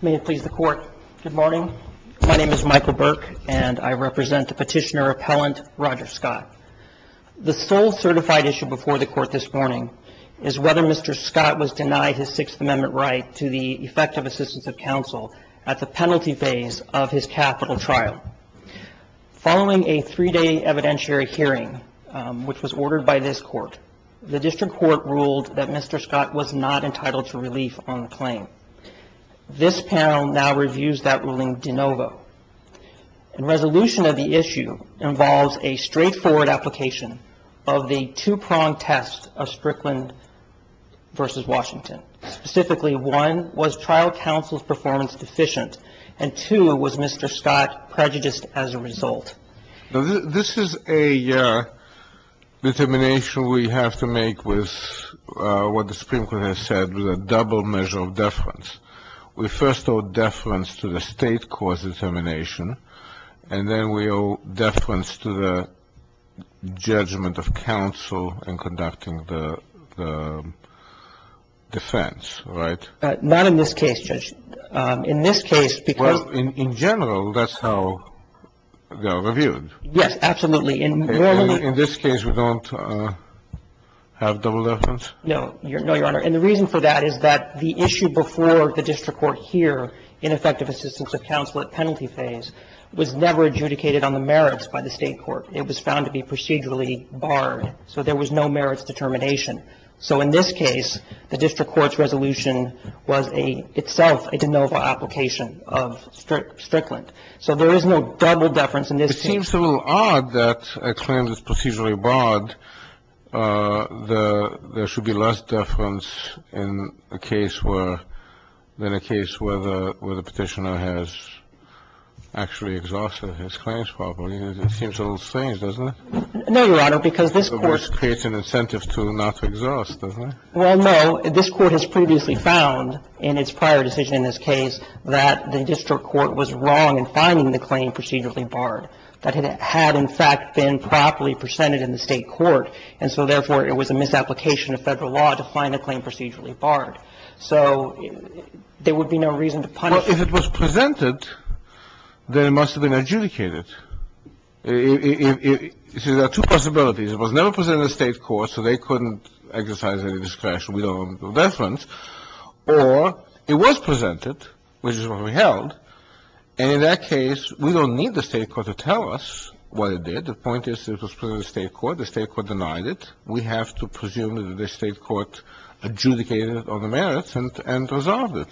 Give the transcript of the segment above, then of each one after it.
May it please the court. Good morning. My name is Michael Burke and I represent the petitioner appellant Roger Scott. The sole certified issue before the court this morning is whether Mr. Scott was denied his Sixth Amendment right to the effective assistance of counsel at the penalty phase of his capital trial. Following a three day evidentiary hearing which was ordered by this court, the district court ruled that Mr. Scott was not entitled to relief on the claim. This panel now reviews that ruling de novo. The resolution of the issue involves a straightforward application of the two pronged test of Strickland v. Washington. Specifically one was trial counsel's performance deficient and two was Mr. Scott prejudiced as a result. This is a determination we have to make with what the Supreme Court has said was a double measure of deference. We first owe deference to the state cause determination and then we owe deference to the judgment of counsel in conducting the defense. Now, in this case, Judge, in this case, because In general, that's how they are reviewed. Yes, absolutely. In this case, we don't have double deference? No, Your Honor. And the reason for that is that the issue before the district court here in effective assistance of counsel at penalty phase was never adjudicated on the merits by the state court. It was found to be procedurally barred. So there was no merits determination. So in this case, the district court's resolution was a, itself, a de novo application of Strickland. So there is no double deference in this case. It seems a little odd that a claim is procedurally barred. There should be less deference in a case where, in a case where the Petitioner has actually exhausted his claims properly. It seems a little strange, doesn't it? No, Your Honor, because this Court's resolution creates an incentive to not exhaust, doesn't it? Well, no. This Court has previously found in its prior decision in this case that the district court was wrong in finding the claim procedurally barred, that it had, in fact, been properly presented in the state court, and so, therefore, it was a misapplication of Federal law to find a claim procedurally barred. So there would be no reason to punish. Well, if it was presented, then it must have been adjudicated. If it was presented, then it must have been adjudicated. If it was presented, then it must have been adjudicated. It's a two-person ability. It was never presented in the state court, so they couldn't exercise any discretion. We don't know the reference. Or it was presented, which is what we held, and in that case, we don't need the state court to tell us what it did. The point is it was presented to the state court. The state court denied it. We have to presume that the state court adjudicated it on the merits and resolved it.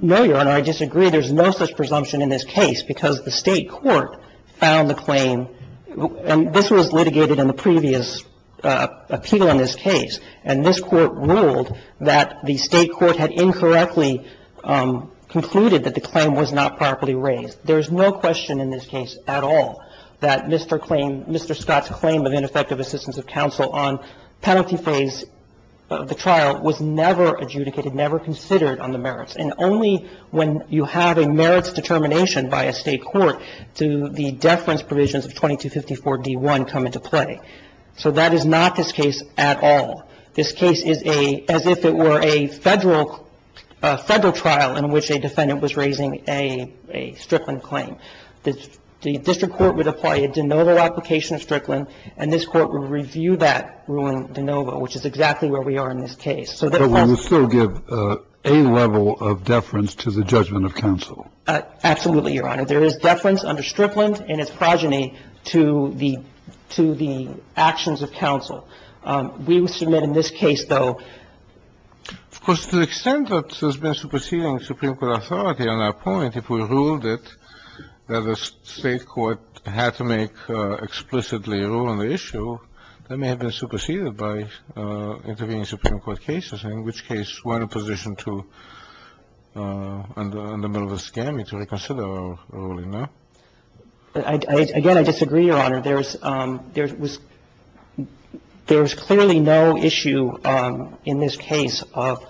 No, Your Honor. I disagree. There's no such presumption in this case because the state court found the claim and this was litigated in the previous appeal in this case, and this court ruled that the state court had incorrectly concluded that the claim was not properly raised. There is no question in this case at all that Mr. Claim, Mr. Scott's claim of ineffective assistance of counsel on penalty phase of the trial was never adjudicated, never considered on the merits, and only when you have a merits determination by a state court do the deference provisions of 2254d1 come into play. So that is not this case at all. This case is a, as if it were a Federal trial in which a defendant was raising a Strickland claim. The district court would apply a de novo application of Strickland, and this court would review that ruling de novo, which is exactly where we are in this case. So that also ---- But we would still give a level of deference to the judgment of counsel. Absolutely, Your Honor. There is deference under Strickland, and it's progeny to the actions of counsel. We would submit in this case, though ---- Of course, to the extent that there's been a superseding of supreme court authority on our point, if we ruled it that the state court had to make explicitly a rule on the issue, that may have been superseded by intervening supreme court cases, in which case we're in a position to, in the middle of a scammy, to reconsider our ruling, no? Again, I disagree, Your Honor. There's clearly no issue in this case of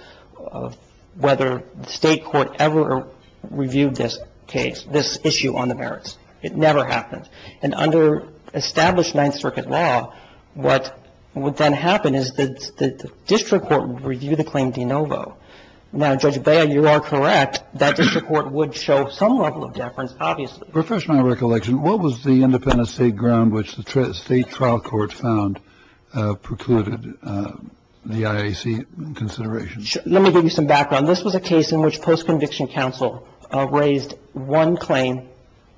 whether the state court ever ---- reviewed this case, this issue on the merits. It never happened. And under established Ninth Circuit law, what would then happen is that the district court would review the claim de novo. Now, Judge Bail, you are correct. That district court would show some level of deference, obviously. Refresh my recollection. What was the independent state ground which the state trial court found precluded the IAC consideration? Let me give you some background. This was a case in which post-conviction counsel raised one claim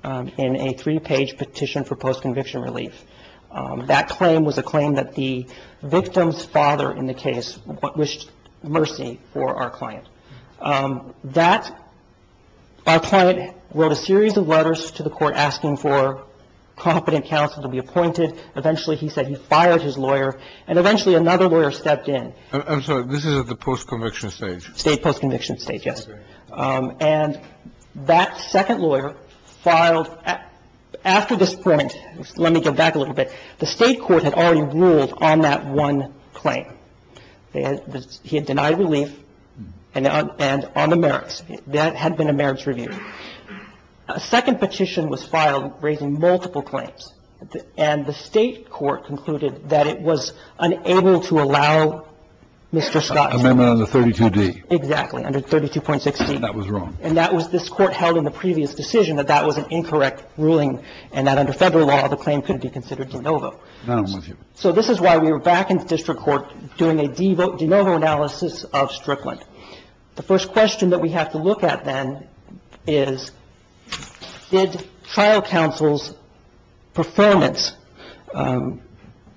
in a three-page petition for post-conviction relief. That claim was a claim that the victim's father in the case wished mercy for our client. That ---- our client wrote a series of letters to the court asking for competent counsel to be appointed. Eventually, he said he fired his lawyer. And eventually, another lawyer stepped in. I'm sorry. This is at the post-conviction stage. State post-conviction stage, yes. And that second lawyer filed after this point. Let me go back a little bit. The state court had already ruled on that one claim. He had denied relief and on the merits. That had been a merits review. A second petition was filed raising multiple claims. That was the amendment under 32D. Exactly, under 32.16. That was wrong. And that was the court held in the previous decision, that that was an incorrect ruling and that under Federal law the claim could be considered de novo. I don't believe you. So this is why we were back in the district court doing a de novo analysis of Strickland. The first question that we have to look at, then, is did trial counsel's performance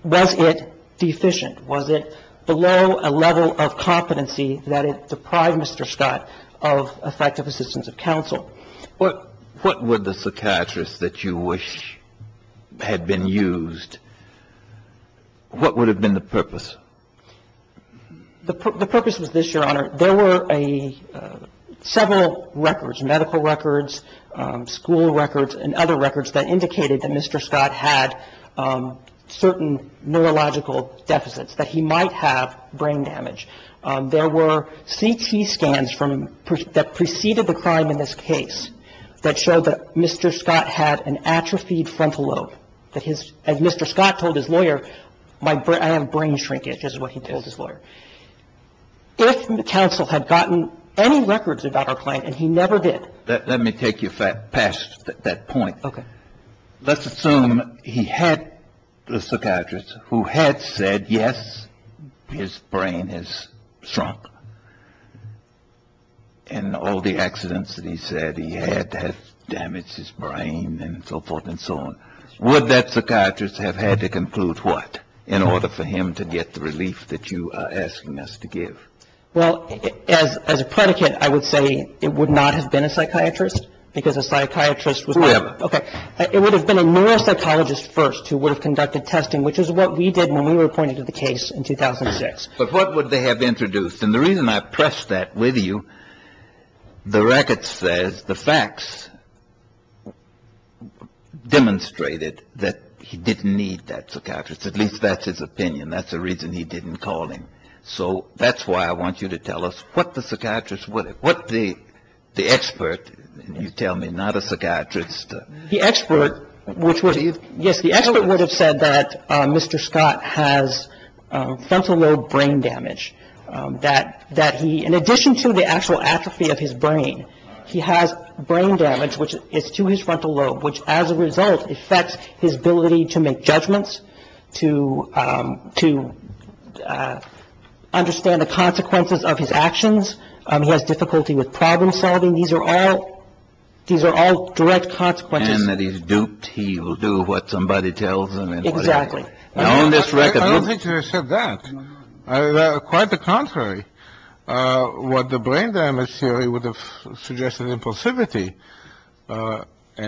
was it deficient? Was it below a level of competency that it deprived Mr. Scott of effective assistance of counsel? What would the psychiatrist that you wish had been used, what would have been the purpose? The purpose was this, Your Honor. There were several records, medical records, school records, and other records that indicated that Mr. Scott had certain neurological deficits, that he might have brain damage. There were CT scans that preceded the crime in this case that showed that Mr. Scott had an atrophied frontal lobe. As Mr. Scott told his lawyer, I have brain shrinkage, is what he told his lawyer. If counsel had gotten any records about our client, and he never did. Let me take you past that point. Okay. Let's assume he had the psychiatrist who had said, yes, his brain has shrunk. And all the accidents that he said he had have damaged his brain and so forth and so on. Would that psychiatrist have had to conclude what in order for him to get the relief that you are asking us to give? Well, as a predicate, I would say it would not have been a psychiatrist because a psychiatrist was not a psychiatrist. It would have been a neuropsychologist first who would have conducted testing, which is what we did when we were appointed to the case in 2006. But what would they have introduced? And the reason I press that with you, the record says the facts demonstrated that he didn't need that psychiatrist. At least that's his opinion. That's the reason he didn't call him. So that's why I want you to tell us what the psychiatrist would have, what the expert, you tell me, not a psychiatrist. The expert, which would have, yes, the expert would have said that Mr. Scott has frontal lobe brain damage. That he, in addition to the actual atrophy of his brain, he has brain damage, which is to his frontal lobe, which as a result affects his ability to make judgments, to to understand the consequences of his actions. He has difficulty with problem solving. These are all these are all direct consequences. And that he's duped. He will do what somebody tells him. Exactly. I don't think he would have said that. Quite the contrary. What the brain damage theory would have suggested impulsivity,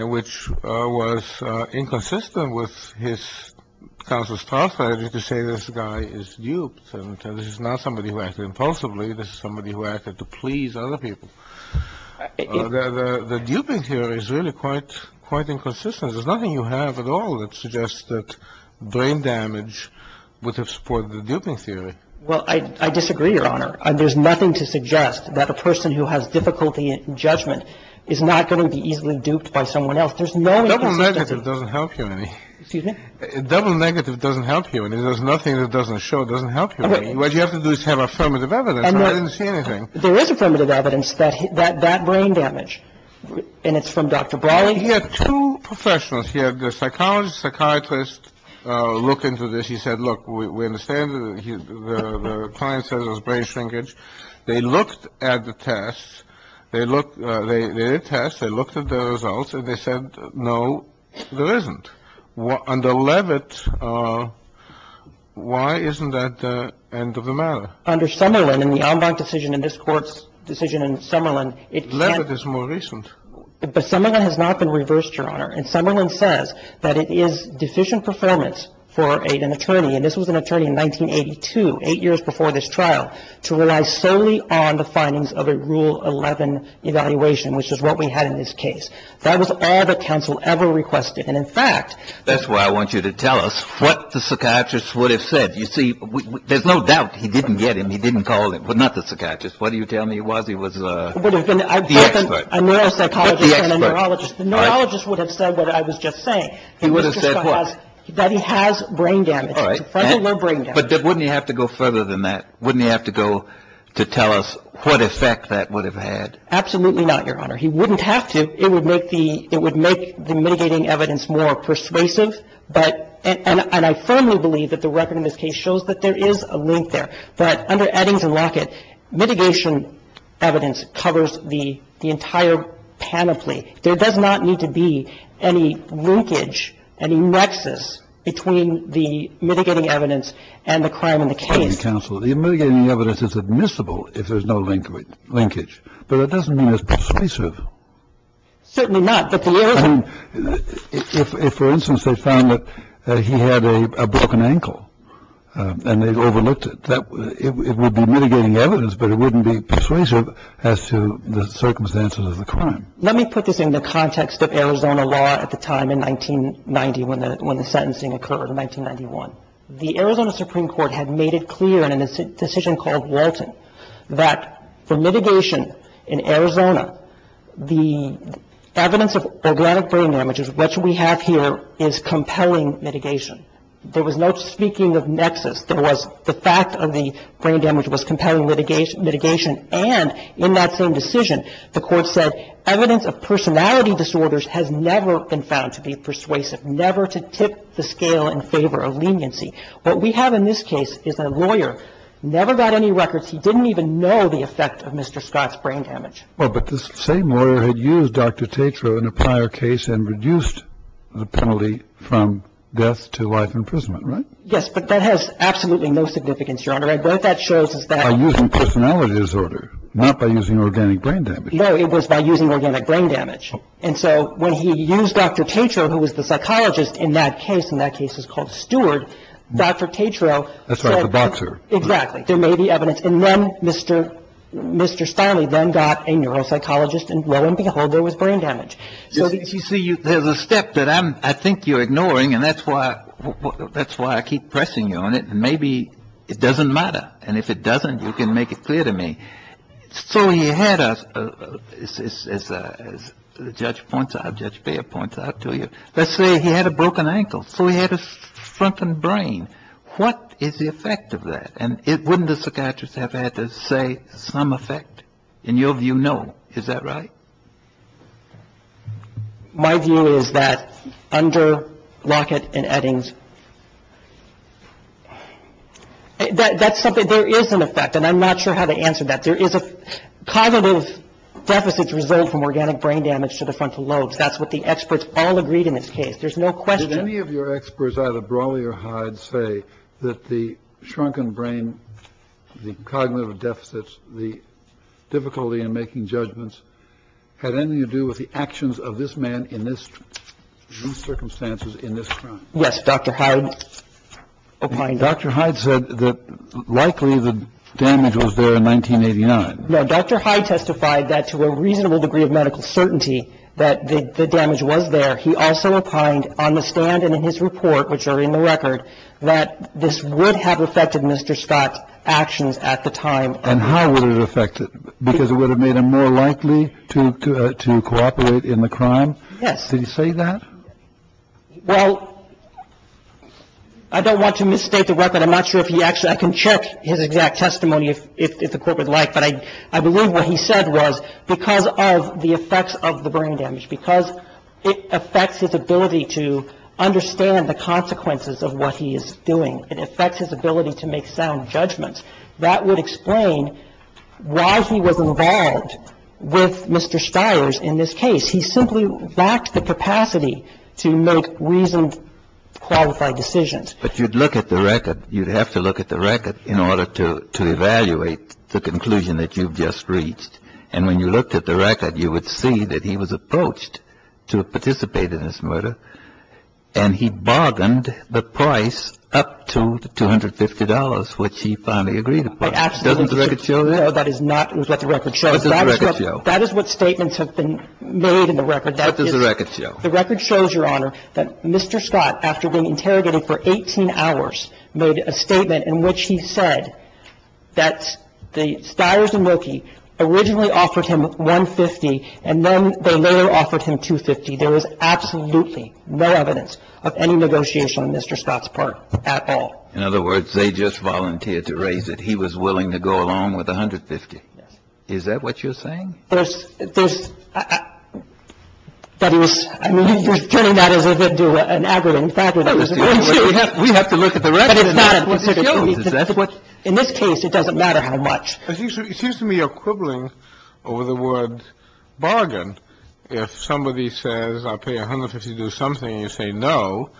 which was inconsistent with his conscious strategy to say this guy is duped. And this is not somebody who acted impulsively. This is somebody who acted to please other people. The duping theory is really quite, quite inconsistent. There's nothing you have at all that suggests that brain damage would have supported the duping theory. Well, I disagree, Your Honor. There's nothing to suggest that a person who has difficulty in judgment is not going to be easily duped by someone else. There's no inconsistency. Double negative doesn't help you any. Excuse me? Double negative doesn't help you any. There's nothing that doesn't show it doesn't help you any. What you have to do is have affirmative evidence. I didn't see anything. There is affirmative evidence that that brain damage, and it's from Dr. Brawley. He had two professionals. He had the psychologist, psychiatrist look into this. He said, look, we understand the client says it was brain shrinkage. They looked at the tests. They looked. They did tests. They looked at the results, and they said, no, there isn't. Under Leavitt, why isn't that the end of the matter? Under Summerlin, in the en banc decision in this Court's decision in Summerlin, it can't. Leavitt is more recent. But Summerlin has not been reversed, Your Honor. And Summerlin says that it is deficient performance for an attorney, and this was an attorney in 1982, eight years before this trial, to rely solely on the findings of a Rule 11 evaluation, which is what we had in this case. That was all that counsel ever requested. And, in fact ---- That's why I want you to tell us what the psychiatrist would have said. You see, there's no doubt he didn't get him. He didn't call him. But not the psychiatrist. What are you telling me it was? He was the expert. The expert. Not the expert. Right. The neurologist would have said what I was just saying. He would have said what? That he has brain damage. All right. But wouldn't he have to go further than that? Wouldn't he have to go to tell us what effect that would have had? Absolutely not, Your Honor. He wouldn't have to. It would make the mitigating evidence more persuasive. And I firmly believe that the record in this case shows that there is a link there, that under Eddings and Lockett, mitigation evidence covers the entire panoply. There does not need to be any linkage, any nexus between the mitigating evidence and the crime in the case. Pardon me, counsel. The mitigating evidence is admissible if there's no linkage. But that doesn't mean it's persuasive. Certainly not. If, for instance, they found that he had a broken ankle and they overlooked it, it would be mitigating evidence, but it wouldn't be persuasive as to the circumstances of the crime. Let me put this in the context of Arizona law at the time in 1990 when the sentencing occurred in 1991. The Arizona Supreme Court had made it clear in a decision called Walton that for mitigation in Arizona, the evidence of organic brain damage, which we have here, is compelling mitigation. There was no speaking of nexus. There was the fact of the brain damage was compelling mitigation, and in that same decision, the Court said evidence of personality disorders has never been found to be persuasive, never to tip the scale in favor of leniency. What we have in this case is a lawyer, never got any records. He didn't even know the effect of Mr. Scott's brain damage. Well, but this same lawyer had used Dr. Tetreault in a prior case and reduced the penalty from death to life imprisonment, right? Yes, but that has absolutely no significance, Your Honor. What that shows is that — By using personality disorder, not by using organic brain damage. No, it was by using organic brain damage. And so when he used Dr. Tetreault, who was the psychologist in that case, and that case is called Stewart, Dr. Tetreault — That's right, the boxer. Exactly. There may be evidence. And then Mr. Starley then got a neuropsychologist, and lo and behold, there was brain damage. So you see, there's a step that I think you're ignoring, and that's why I keep pressing you on it. And maybe it doesn't matter. And if it doesn't, you can make it clear to me. So he had a — as Judge Baird points out to you, let's say he had a broken ankle. So he had a shrunken brain. What is the effect of that? And wouldn't a psychiatrist have had to say some effect? In your view, no. Is that right? My view is that under Lockett and Eddings, that's something — there is an effect, and I'm not sure how to answer that. There is a — cognitive deficits result from organic brain damage to the frontal lobes. That's what the experts all agreed in this case. There's no question — Did any of your experts, either Brawley or Hyde, say that the shrunken brain, the cognitive deficits, the difficulty in making judgments had anything to do with the actions of this man in these circumstances, in this time? Yes. Dr. Hyde opined — Dr. Hyde said that likely the damage was there in 1989. No. Dr. Hyde testified that to a reasonable degree of medical certainty that the damage was there. He also opined on the stand and in his report, which are in the record, that this would have affected Mr. Scott's actions at the time. And how would it affect it? Because it would have made him more likely to cooperate in the crime? Yes. Did he say that? Well, I don't want to misstate the weapon. I'm not sure if he actually — I can check his exact testimony if the Court would like, but I believe what he said was because of the effects of the brain damage, because it affects his ability to understand the consequences of what he is doing, it affects his ability to make sound judgments. That would explain why he was involved with Mr. Stiers in this case. He simply lacked the capacity to make reasoned, qualified decisions. But you'd look at the record. You'd have to look at the record in order to evaluate the conclusion that you've just reached. And when you looked at the record, you would see that he was approached to participate in this murder, and he bargained the price up to the $250, which he finally agreed upon. Doesn't the record show that? No, that is not what the record shows. What does the record show? That is what statements have been made in the record. What does the record show? The record shows, Your Honor, that Mr. Scott, after being interrogated for 18 hours, made a statement in which he said that the Stiers and Wilkie originally offered him $150, and then they later offered him $250. There was absolutely no evidence of any negotiation on Mr. Scott's part at all. In other words, they just volunteered to raise it. He was willing to go along with $150. Yes. Is that what you're saying? There's – there's – that he was – I mean, you're turning that into an aggravating factor. We have to look at the record. In this case, it doesn't matter how much. It seems to me you're quibbling over the word bargain. If somebody says, I'll pay $150 to do something, and you say no,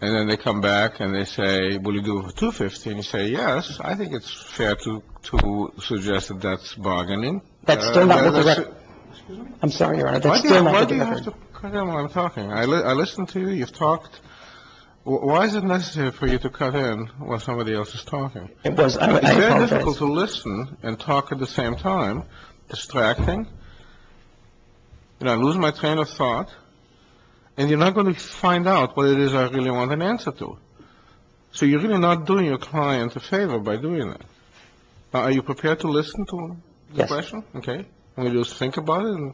and then they come back and they say, will you do it for $250? And you say, yes, I think it's fair to suggest that that's bargaining. That's still not what the record – Excuse me? I'm sorry, Your Honor. That's still not the record. Why do you have to cut in while I'm talking? I listened to you. You've talked. Why is it necessary for you to cut in while somebody else is talking? It was – I apologize. You're prepared to listen and talk at the same time, distracting, and I lose my train of thought, and you're not going to find out what it is I really want an answer to. So you're really not doing your client a favor by doing that. Now, are you prepared to listen to the question? Yes. Okay. Will you think about it and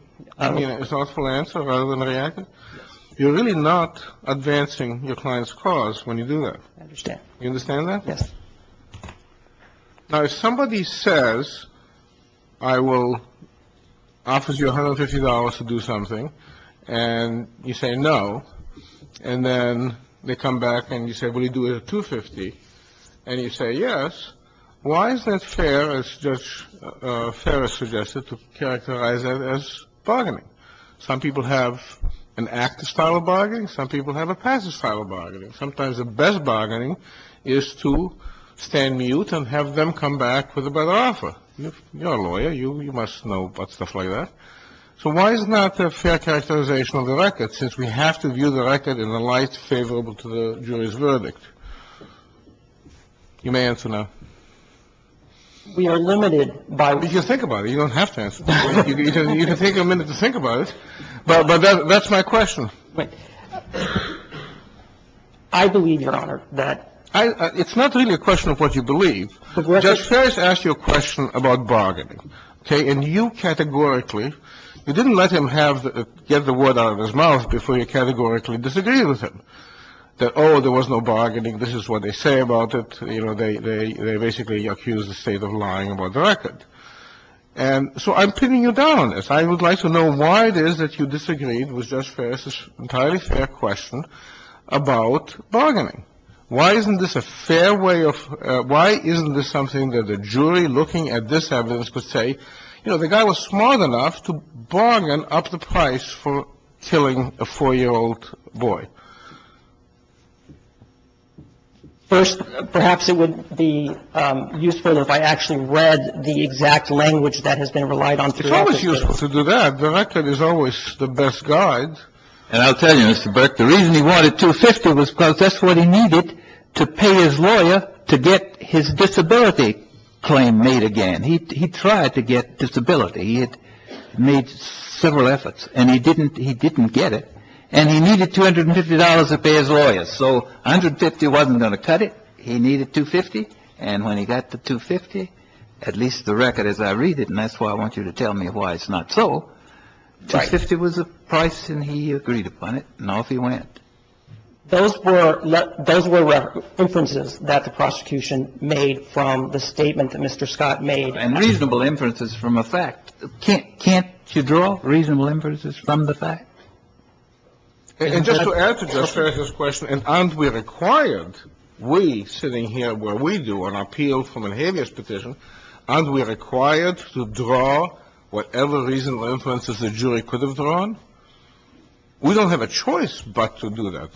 give me a thoughtful answer rather than react? Yes. You're really not advancing your client's cause when you do that. I understand. You understand that? Yes. Now, if somebody says, I will offer you $150 to do something, and you say no, and then they come back and you say, will you do it at $250, and you say yes, why is that fair, as Judge Ferris suggested, to characterize that as bargaining? Some people have a passive style of bargaining. Sometimes the best bargaining is to stand mute and have them come back with a better offer. You're a lawyer. You must know about stuff like that. So why is it not a fair characterization of the record, since we have to view the record in a light favorable to the jury's verdict? You may answer now. We are limited by — You can think about it. You don't have to answer. You can take a minute to think about it, but that's my question. I believe, Your Honor, that — It's not really a question of what you believe. Judge Ferris asked you a question about bargaining. Okay? And you categorically — you didn't let him get the word out of his mouth before you categorically disagreed with him, that, oh, there was no bargaining, this is what they say about it. You know, they basically accuse the State of lying about the record. And so I'm pinning you down on this. I would like to know why it is that you disagreed with Judge Ferris' entirely fair question about bargaining. Why isn't this a fair way of — why isn't this something that a jury looking at this evidence could say, you know, the guy was smart enough to bargain up the price for killing a 4-year-old boy? First, perhaps it would be useful if I actually read the exact language that has been relied on throughout the case. To do that, the record is always the best guide. And I'll tell you, Mr. Burke, the reason he wanted $250 was because that's what he needed to pay his lawyer to get his disability claim made again. He tried to get disability. He had made several efforts, and he didn't get it. And he needed $250 to pay his lawyer. So $150 wasn't going to cut it. He needed $250. And when he got the $250, at least the record as I read it — and that's why I want you to tell me why it's not so — $250 was the price, and he agreed upon it, and off he went. Those were — those were references that the prosecution made from the statement that Mr. Scott made. And reasonable inferences from a fact. Can't you draw reasonable inferences from the fact? And just to add to Justice Sessions' question, and aren't we required, we sitting here where we do an appeal from an habeas petition, aren't we required to draw whatever reasonable inferences the jury could have drawn? We don't have a choice but to do that.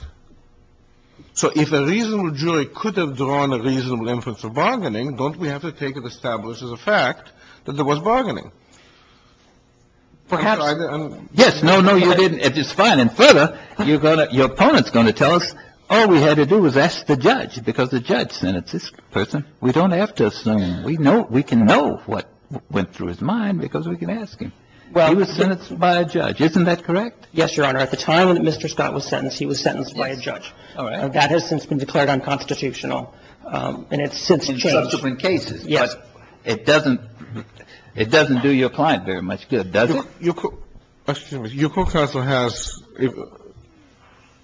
So if a reasonable jury could have drawn a reasonable inference of bargaining, don't we have to take it established as a fact that there was bargaining? Perhaps. Yes. No, no, you didn't. It is fine. And further, you're going to — your opponent's going to tell us all we had to do was ask the judge because the judge sentenced this person. We don't have to assume. We know — we can know what went through his mind because we can ask him. He was sentenced by a judge. Isn't that correct? Yes, Your Honor. At the time that Mr. Scott was sentenced, he was sentenced by a judge. All right. That has since been declared unconstitutional. And it's since changed. In subsequent cases. Yes. But it doesn't — it doesn't do your client very much good, does it? Excuse me. Your co-counsel has —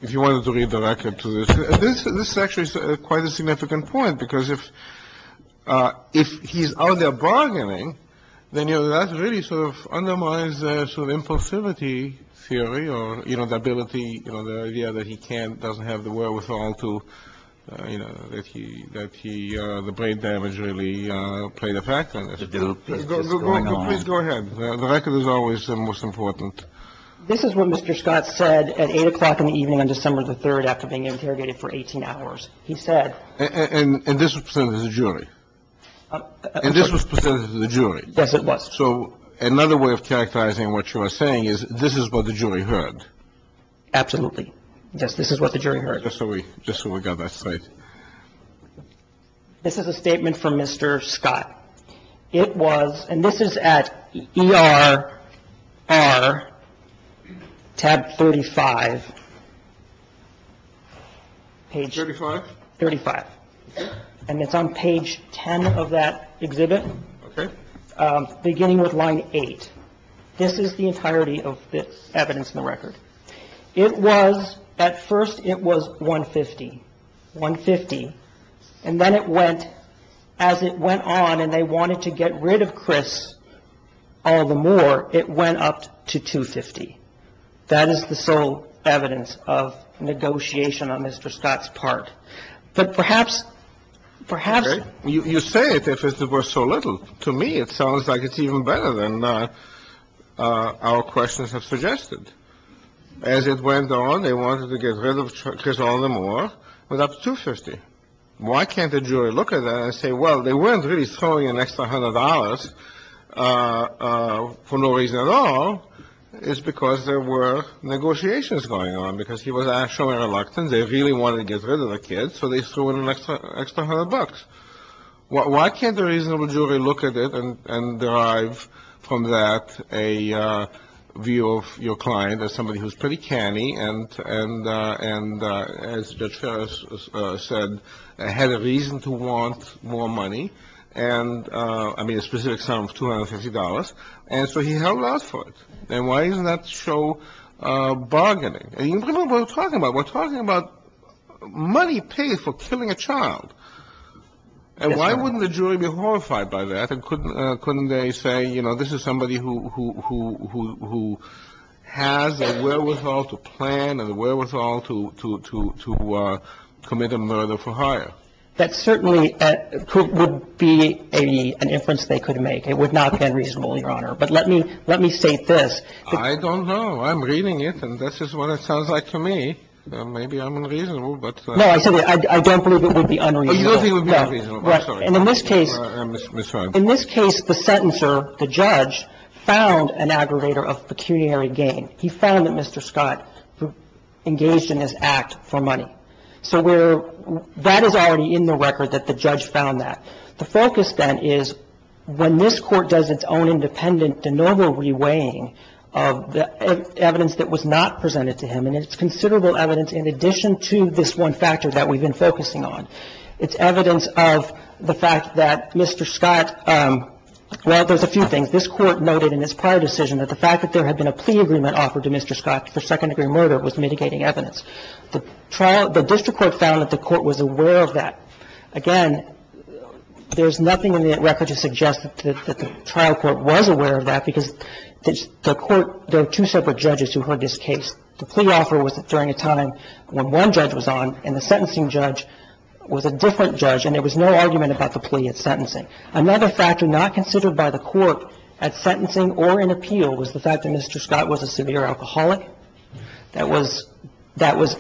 if you wanted to read the record to this. This is actually quite a significant point because if he's out there bargaining, then, you know, that really sort of undermines sort of impulsivity theory or, you know, the ability — you know, the idea that he can't — doesn't have the wherewithal to, you know, the way that he — that he — the brain damage really played a factor in this. The doubt that this is going on. Please go ahead. The record is always the most important. This is what Mr. Scott said at 8 o'clock in the evening on December the 3rd after being interrogated for 18 hours. He said — And this was presented to the jury. And this was presented to the jury. Yes, it was. So another way of characterizing what you are saying is this is what the jury heard. Absolutely. Yes, this is what the jury heard. All right. Just so we — just so we got that straight. This is a statement from Mr. Scott. It was — and this is at ERR tab 35, page — 35? 35. And it's on page 10 of that exhibit. Okay. Beginning with line 8. This is the entirety of the evidence in the record. It was — at first it was 150. 150. And then it went — as it went on and they wanted to get rid of Chris all the more, it went up to 250. That is the sole evidence of negotiation on Mr. Scott's part. But perhaps — perhaps — Okay. You say it as if it were so little. To me, it sounds like it's even better than our questions have suggested. As it went on, they wanted to get rid of Chris all the more. It went up to 250. Why can't the jury look at that and say, well, they weren't really throwing in an extra hundred dollars for no reason at all. It's because there were negotiations going on, because he was actually reluctant. They really wanted to get rid of the kid, so they threw in an extra hundred bucks. Why can't the reasonable jury look at it and derive from that a view of your client as somebody who's pretty canny and, as Judge Ferris said, had a reason to want more money and — I mean, a specific sum of $250. And so he held out for it. And why isn't that show bargaining? You remember what we're talking about. We're talking about money paid for killing a child. And why wouldn't the jury be horrified by that? Couldn't they say, you know, this is somebody who has a wherewithal to plan and a wherewithal to commit a murder for hire? That certainly would be an inference they could make. It would not be unreasonable, Your Honor. But let me — let me state this. I don't know. I'm reading it. And this is what it sounds like to me. Maybe I'm unreasonable, but — No, I said I don't believe it would be unreasonable. Oh, you don't think it would be unreasonable. I'm sorry. I'm sorry. In this case, the sentencer, the judge, found an aggregator of pecuniary gain. He found that Mr. Scott engaged in this act for money. So we're — that is already in the record that the judge found that. The focus then is when this Court does its own independent de novo reweighing of evidence that was not presented to him, and it's considerable evidence in addition to this one factor that we've been focusing on. It's evidence of the fact that Mr. Scott — well, there's a few things. This Court noted in its prior decision that the fact that there had been a plea agreement offered to Mr. Scott for second-degree murder was mitigating evidence. The trial — the district court found that the Court was aware of that. Again, there's nothing in the record to suggest that the trial court was aware of that because the Court — there were two separate judges who heard this case. The plea offer was during a time when one judge was on, and the sentencing judge was a different judge, and there was no argument about the plea at sentencing. Another factor not considered by the Court at sentencing or in appeal was the fact that Mr. Scott was a severe alcoholic. That was — that was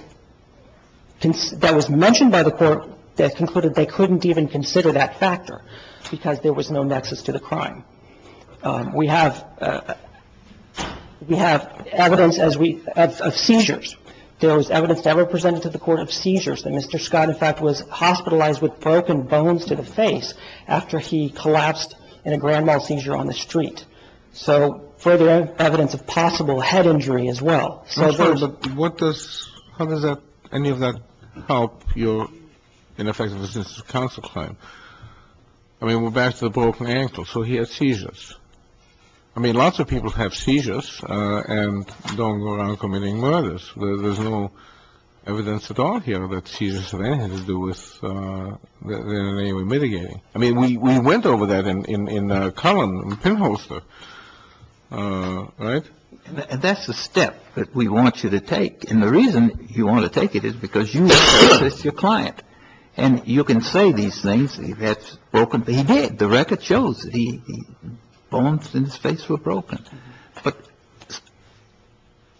— that was mentioned by the Court that concluded they couldn't even consider that factor because there was no nexus to the crime. We have — we have evidence as we — of seizures. There was evidence never presented to the Court of seizures that Mr. Scott, in fact, was hospitalized with broken bones to the face after he collapsed in a grand mal seizure on the street. So further evidence of possible head injury as well. So there's — What does — how does that — any of that help your ineffective assistance counsel claim? I mean, we're back to the broken ankle. So he had seizures. I mean, lots of people have seizures and don't go around committing murders. There's no evidence at all here that seizures have anything to do with their name mitigating. I mean, we went over that in — in Cullen, the pinholster, right? That's the step that we want you to take. And the reason you want to take it is because you need to assist your client. And you can say these things, that's broken. He did. The record shows it. The bones in his face were broken. But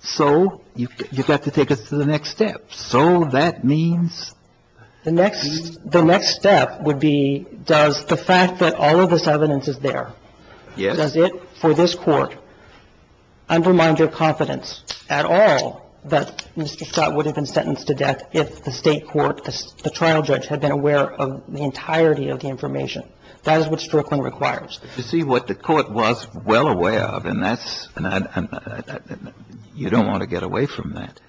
so you've got to take us to the next step. So that means — The next — the next step would be does the fact that all of this evidence is there, does it for this Court undermine your confidence at all that Mr. Scott would have been sentenced to death if the State court, the trial judge, had been aware of the entirety of the information? That is what Strickland requires. You see, what the Court was well aware of, and that's — you don't want to get away from that.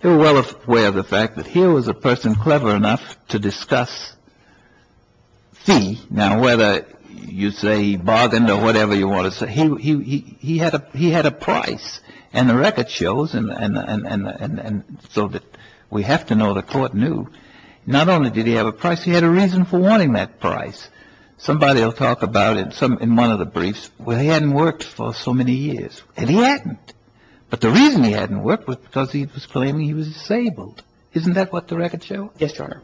They were well aware of the fact that here was a person clever enough to discuss fee. Now, whether you say he bargained or whatever you want to say, he had a price. And the record shows, and so that we have to know the Court knew, not only did he have a price, he had a reason for wanting that price. Somebody will talk about it in one of the briefs, well, he hadn't worked for so many years. And he hadn't. But the reason he hadn't worked was because he was claiming he was disabled. Isn't that what the record shows? Yes, Your Honor.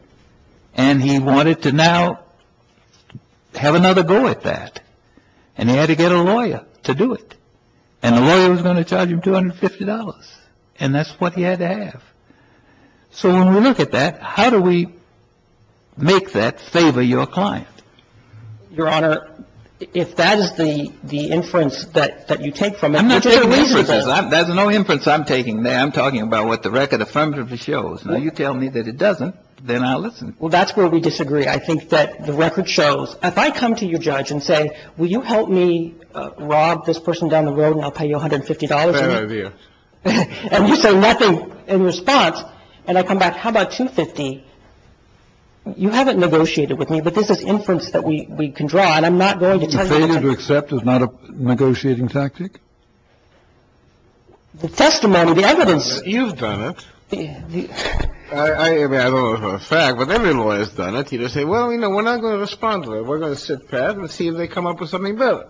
And he wanted to now have another go at that. And he had to get a lawyer to do it. And the lawyer was going to charge him $250. And that's what he had to have. So when we look at that, how do we make that favor your client? Your Honor, if that is the inference that you take from it — I'm not taking inferences. There's no inference I'm taking there. I'm talking about what the record affirmatively shows. Now, you tell me that it doesn't, then I'll listen. Well, that's where we disagree. I think that the record shows. If I come to you, Judge, and say, will you help me rob this person down the road and I'll pay you $150? Fair of you. And you say nothing in response. And I come back, how about $250? You haven't negotiated with me, but this is inference that we can draw. And I'm not going to tell you — You're going to accept it's not a negotiating tactic? The testimony, the evidence — You've done it. I mean, I don't know if it's a fact, but every lawyer's done it. You just say, well, you know, we're not going to respond to it. We're going to sit back and see if they come up with something better.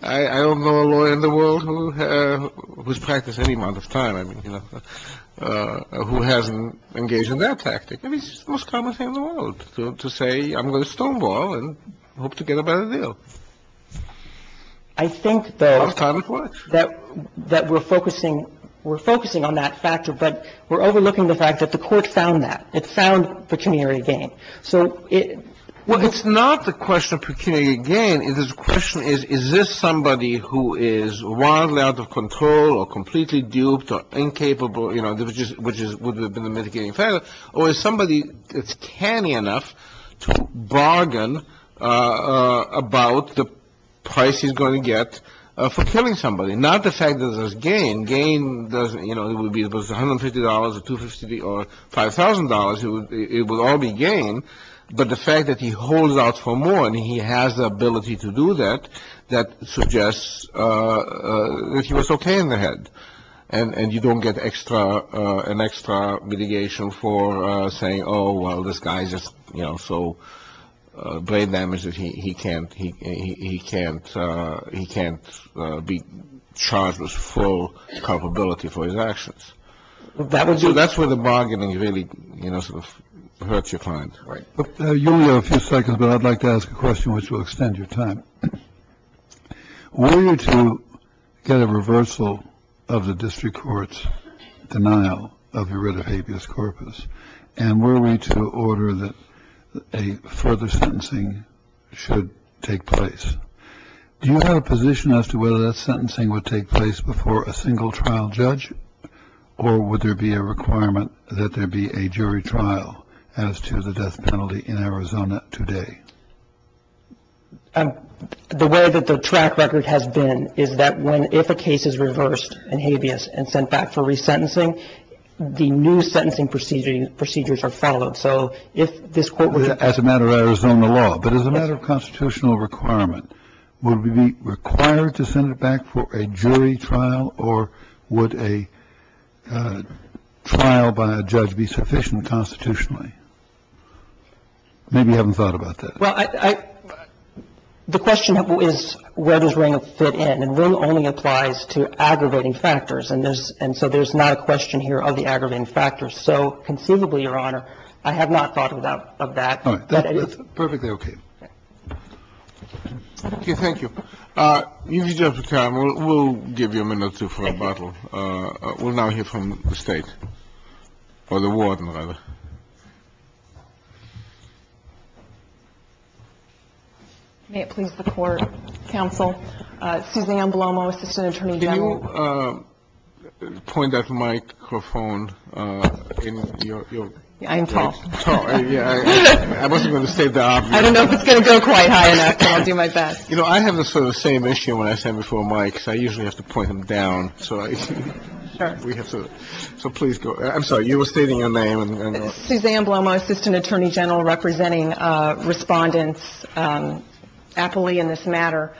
I don't know a lawyer in the world who's practiced any amount of time, I mean, you know, who hasn't engaged in that tactic. I mean, it's the most common thing in the world to say I'm going to stonewall and hope to get a better deal. I think, though, that we're focusing on that factor, but we're overlooking the fact that the Court found that. It found pecuniary gain. So it — Well, it's not the question of pecuniary gain. The question is, is this somebody who is wildly out of control or completely duped or incapable, you know, which would have been the mitigating factor, or is somebody that's canny enough to bargain about the price he's going to get for killing somebody? Not the fact that there's gain. Gain, you know, it would be $150 or $250 or $5,000. It would all be gain. But the fact that he holds out for more and he has the ability to do that, that suggests that he was okay in the head and you don't get an extra mitigation for saying, oh, well, this guy's just so brain damaged that he can't be charged with full culpability for his actions. That's where the bargaining really, you know, sort of hurts your client. Right. You only have a few seconds, but I'd like to ask a question which will extend your time. Were you to get a reversal of the district court's denial of your writ of habeas corpus and were we to order that a further sentencing should take place? Do you have a position as to whether that sentencing would take place before a single trial judge? Or would there be a requirement that there be a jury trial as to the death penalty in Arizona today? The way that the track record has been is that if a case is reversed in habeas and sent back for resentencing, the new sentencing procedures are followed. So if this court were to- As a matter of Arizona law, but as a matter of constitutional requirement, would we be required to send it back for a jury trial or would a trial by a judge be sufficient constitutionally? Maybe you haven't thought about that. Well, the question is where does Ringo fit in? And Ringo only applies to aggravating factors. And so there's not a question here of the aggravating factors. So conceivably, Your Honor, I have not thought of that. All right. Perfectly okay. Thank you. Use your time. We'll give you a minute or two for rebuttal. We'll now hear from the state or the warden, rather. May it please the court, counsel. Suzanne Blomo, assistant attorney general. Did you point that microphone in your- I'm tall. Yeah. I wasn't going to say that. I don't know if it's going to go quite high enough, but I'll do my best. You know, I have the sort of same issue when I stand before a mic, so I usually have to point them down. So please go. I'm sorry. You were stating your name. Suzanne Blomo, assistant attorney general, representing Respondents Appley in this matter.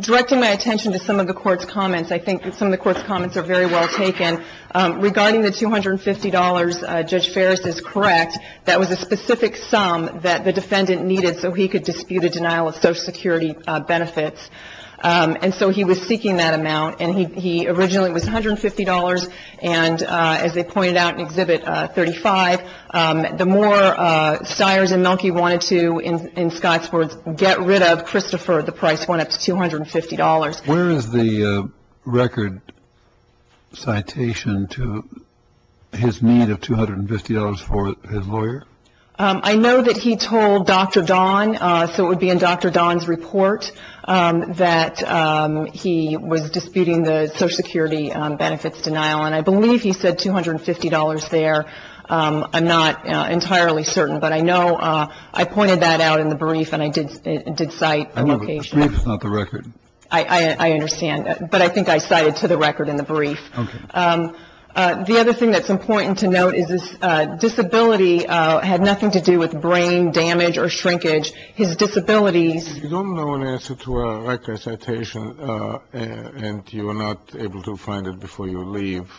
Directing my attention to some of the Court's comments, I think that some of the Court's comments are very well taken. Regarding the $250, Judge Ferris is correct. That was a specific sum that the defendant needed so he could dispute a denial of Social Security benefits. And so he was seeking that amount, and he originally was $150, and as they pointed out in Exhibit 35, the more Stiers and Mielke wanted to, in Scott's words, get rid of Christopher, the price went up to $250. Where is the record citation to his need of $250 for his lawyer? I know that he told Dr. Don, so it would be in Dr. Don's report, that he was disputing the Social Security benefits denial. And I believe he said $250 there. I'm not entirely certain, but I know I pointed that out in the brief and I did cite the location. The brief, not the record. I understand, but I think I cited to the record in the brief. Okay. The other thing that's important to note is his disability had nothing to do with brain damage or shrinkage. His disabilities. If you don't know an answer to a record citation and you are not able to find it before you leave,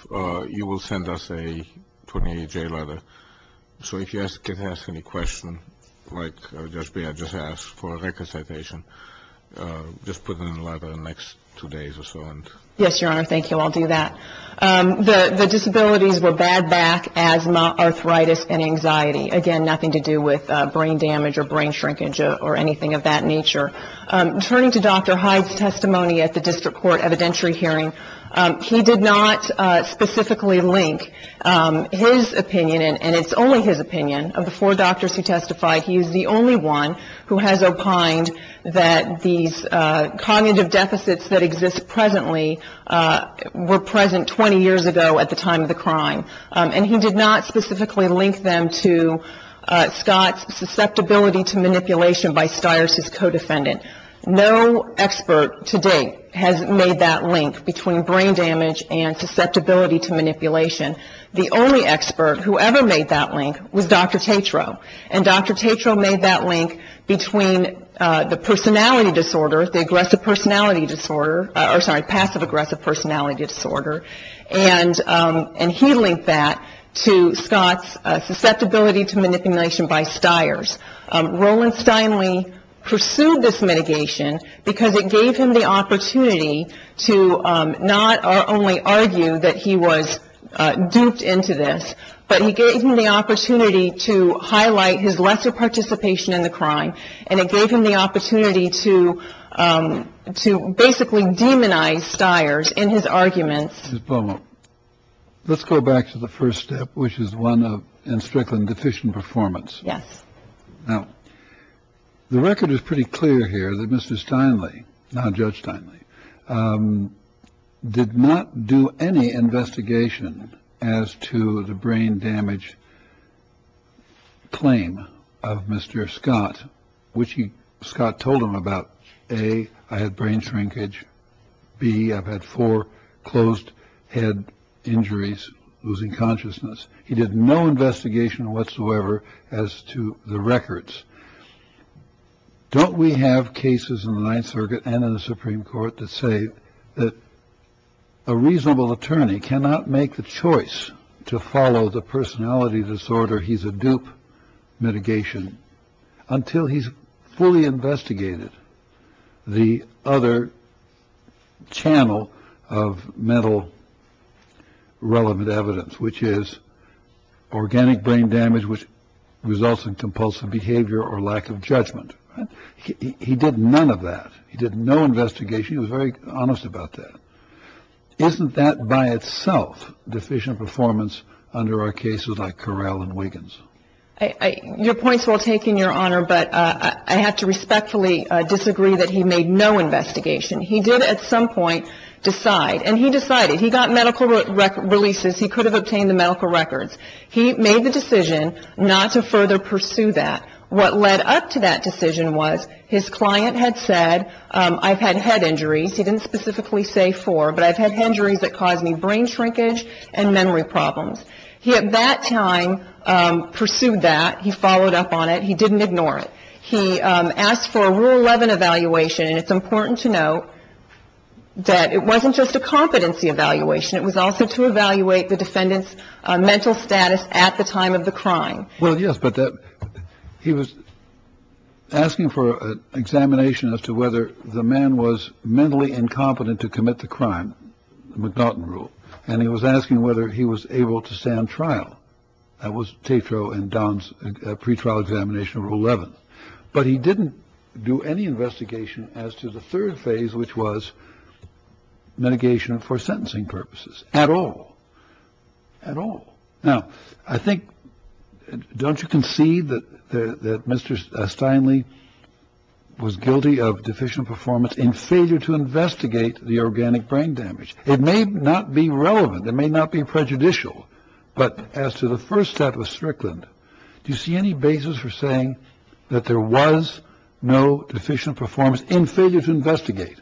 you will send us a 28-J letter. So if you can ask any questions, like I just asked for a record citation, just put it in the letter in the next two days or so. Yes, Your Honor. Thank you. I'll do that. The disabilities were bad back, asthma, arthritis, and anxiety. Again, nothing to do with brain damage or brain shrinkage or anything of that nature. Turning to Dr. Hyde's testimony at the district court evidentiary hearing, he did not specifically link his opinion, and it's only his opinion, of the four doctors who testified. He is the only one who has opined that these cognitive deficits that exist presently were present 20 years ago at the time of the crime. And he did not specifically link them to Scott's susceptibility to manipulation by Stier's co-defendant. No expert to date has made that link between brain damage and susceptibility to manipulation. The only expert who ever made that link was Dr. Tatro. And Dr. Tatro made that link between the personality disorder, the aggressive personality disorder, or sorry, passive aggressive personality disorder. And he linked that to Scott's susceptibility to manipulation by Stier's. Roland Steinle pursued this mitigation because it gave him the opportunity to not only argue that he was duped into this, but he gave him the opportunity to highlight his lesser participation in the crime, and it gave him the opportunity to to basically demonize Stier's in his arguments. Well, let's go back to the first step, which is one of in strict and deficient performance. Yes. The record is pretty clear here that Mr. Steinle, now Judge Steinle, did not do any investigation as to the brain damage. Claim of Mr. Scott, which he Scott told him about. A. I had brain shrinkage. B. I've had four closed head injuries, losing consciousness. He did no investigation whatsoever as to the records. Don't we have cases in the Ninth Circuit and in the Supreme Court to say that a reasonable attorney cannot make the choice to follow the personality disorder? He's a dupe mitigation until he's fully investigated the other channel of metal relevant evidence, which is organic brain damage, which results in compulsive behavior or lack of judgment. He did none of that. He did no investigation. He was very honest about that. Isn't that by itself deficient performance under our cases like Corral and Wiggins? Your points were taken, Your Honor, but I have to respectfully disagree that he made no investigation. He did at some point decide and he decided he got medical releases. He could have obtained the medical records. He made the decision not to further pursue that. What led up to that decision was his client had said I've had head injuries. He didn't specifically say four, but I've had injuries that caused me brain shrinkage and memory problems. He at that time pursued that. He followed up on it. He didn't ignore it. He asked for a rule 11 evaluation. And it's important to know that it wasn't just a competency evaluation. It was also to evaluate the defendant's mental status at the time of the crime. Well, yes, but he was asking for an examination as to whether the man was mentally incompetent to commit the crime. McNaughton rule. And he was asking whether he was able to stand trial. That was Tito and Don's pretrial examination of 11. But he didn't do any investigation as to the third phase, which was mitigation for sentencing purposes at all. Now, I think don't you concede that Mr. Steinle was guilty of deficient performance in failure to investigate the organic brain damage? It may not be relevant. It may not be prejudicial. But as to the first step of Strickland, do you see any basis for saying that there was no deficient performance in failure to investigate?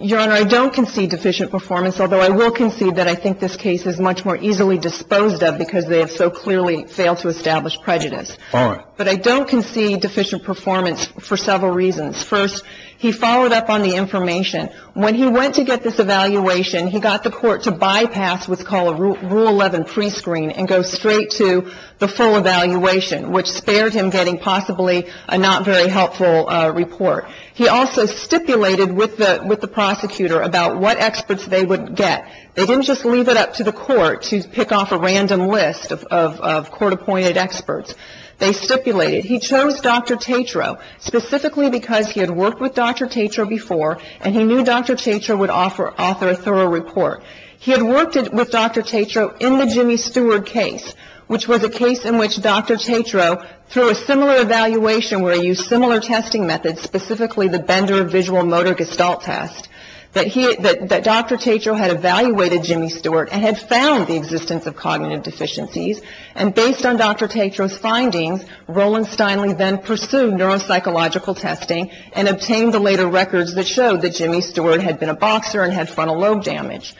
Your Honor, I don't concede deficient performance, although I will concede that I think this case is much more easily disposed of because they have so clearly failed to establish prejudice. But I don't concede deficient performance for several reasons. First, he followed up on the information when he went to get this evaluation. He got the court to bypass what's called a rule 11 prescreen and go straight to the full evaluation, which spared him getting possibly a not very helpful report. He also stipulated with the prosecutor about what experts they would get. They didn't just leave it up to the court to pick off a random list of court-appointed experts. They stipulated. He chose Dr. Tetrault specifically because he had worked with Dr. Tetrault before, and he knew Dr. Tetrault would offer a thorough report. He had worked with Dr. Tetrault in the Jimmy Stewart case, which was a case in which Dr. Tetrault, through a similar evaluation where he used similar testing methods, specifically the Bender visual motor gestalt test, that Dr. Tetrault had evaluated Jimmy Stewart and had found the existence of cognitive deficiencies. And based on Dr. Tetrault's findings, Roland Steinle then pursued neuropsychological testing and obtained the later records that showed that Jimmy Stewart had been a boxer and had frontal lobe damage.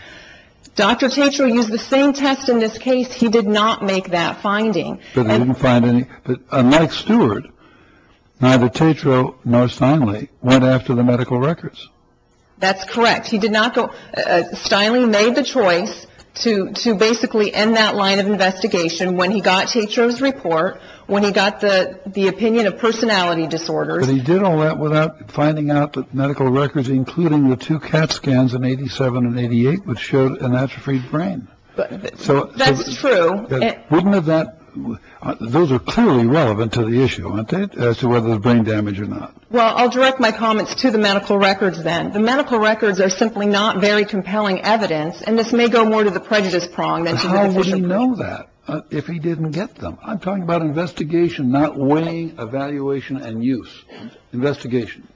Dr. Tetrault used the same test in this case. He did not make that finding. But he didn't find any. But unlike Stewart, neither Tetrault nor Steinle went after the medical records. That's correct. He did not go. Steinle made the choice to basically end that line of investigation when he got Tetrault's report, when he got the opinion of personality disorders. But he did all that without finding out that medical records, including the two CAT scans in 87 and 88, which showed an atrophied brain. So that's true. Wouldn't have that. Those are clearly relevant to the issue, aren't they, as to whether there's brain damage or not. Well, I'll direct my comments to the medical records then. The medical records are simply not very compelling evidence. And this may go more to the prejudice prong. How would he know that if he didn't get them? I'm talking about investigation, not weighing, evaluation and use. Investigation.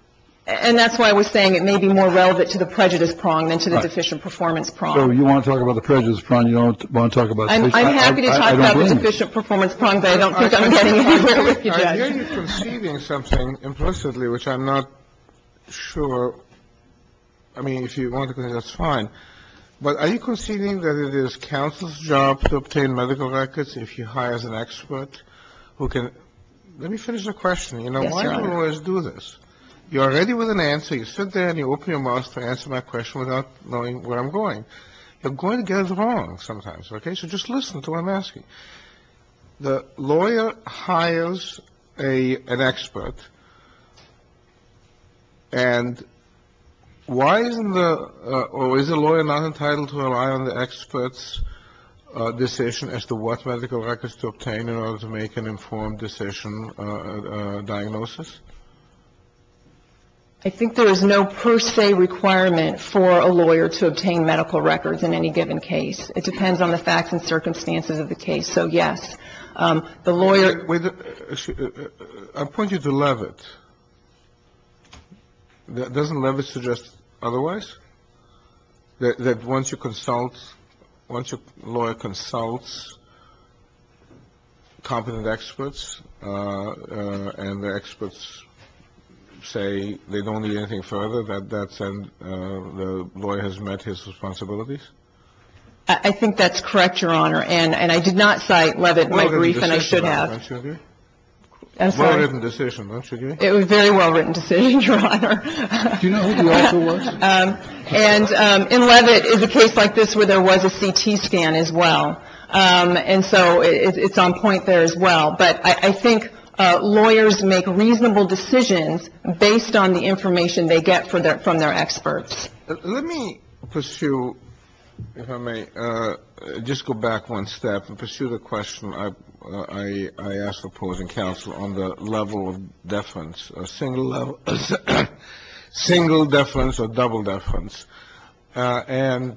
And that's why I was saying it may be more relevant to the prejudice prong than to the deficient performance prong. So you want to talk about the prejudice prong. You don't want to talk about the solution. I'm happy to talk about the deficient performance prong, but I don't think I'm getting anywhere with you, Judge. I hear you're conceding something implicitly, which I'm not sure. I mean, if you want to, that's fine. But are you conceding that it is counsel's job to obtain medical records if you hire an expert who can? Let me finish the question. Yes, Your Honor. You know, why do lawyers do this? You're already with an answer. You sit there and you open your mouth to answer my question without knowing where I'm going. You're going to get it wrong sometimes, okay? So just listen to what I'm asking. The lawyer hires an expert. And why isn't the or is the lawyer not entitled to rely on the expert's decision as to what medical records to obtain in order to make an informed decision diagnosis? I think there is no per se requirement for a lawyer to obtain medical records in any given case. It depends on the facts and circumstances of the case. So, yes, the lawyer — Wait a minute. I'm pointing to Levitt. Doesn't Levitt suggest otherwise? I think that's correct, Your Honor. And I did not cite Levitt in my brief, and I should have. It was a well-written decision, wasn't it? It was a very well-written decision, Your Honor. I don't. I don't. I don't. I don't. I don't. I don't. And in Levitt is a case like this where there was a CT scan as well. And so it's on point there as well. But I think lawyers make reasonable decisions based on the information they get from their experts. Let me pursue, if I may, just go back one step and pursue the question I asked the opposing counsel on the level of deference, or single deference or double deference. And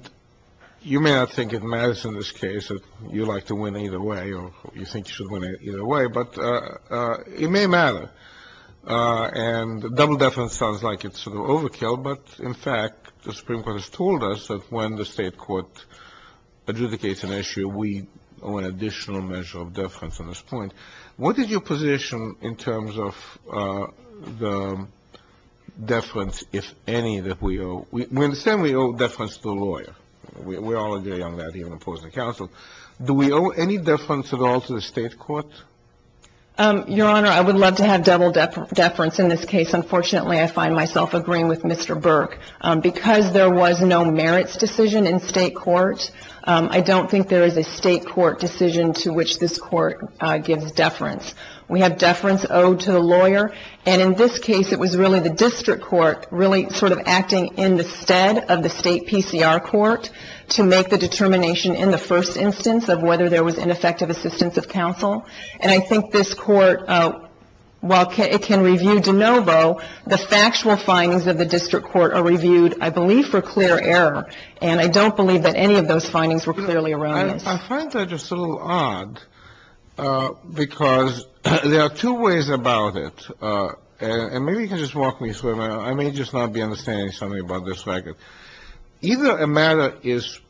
you may not think it matters in this case that you like to win either way or you think you should win either way, but it may matter. And double deference sounds like it's sort of overkill, but, in fact, the Supreme Court has told us that when the state court adjudicates an issue, we owe an additional measure of deference on this point. What is your position in terms of the deference, if any, that we owe? We understand we owe deference to the lawyer. We all agree on that, even opposing counsel. Do we owe any deference at all to the state court? Your Honor, I would love to have double deference in this case. Unfortunately, I find myself agreeing with Mr. Burke. Because there was no merits decision in state court, I don't think there is a state court decision to which this court gives deference. We have deference owed to the lawyer, and in this case it was really the district court really sort of acting in the stead of the state PCR court to make the determination in the first instance of whether there was ineffective assistance of counsel. And I think this court, while it can review de novo, the factual findings of the district court are reviewed, I believe, for clear error. And I don't believe that any of those findings were clearly erroneous. I find that just a little odd, because there are two ways about it. And maybe you can just walk me through it. I may just not be understanding something about this record. Either a matter is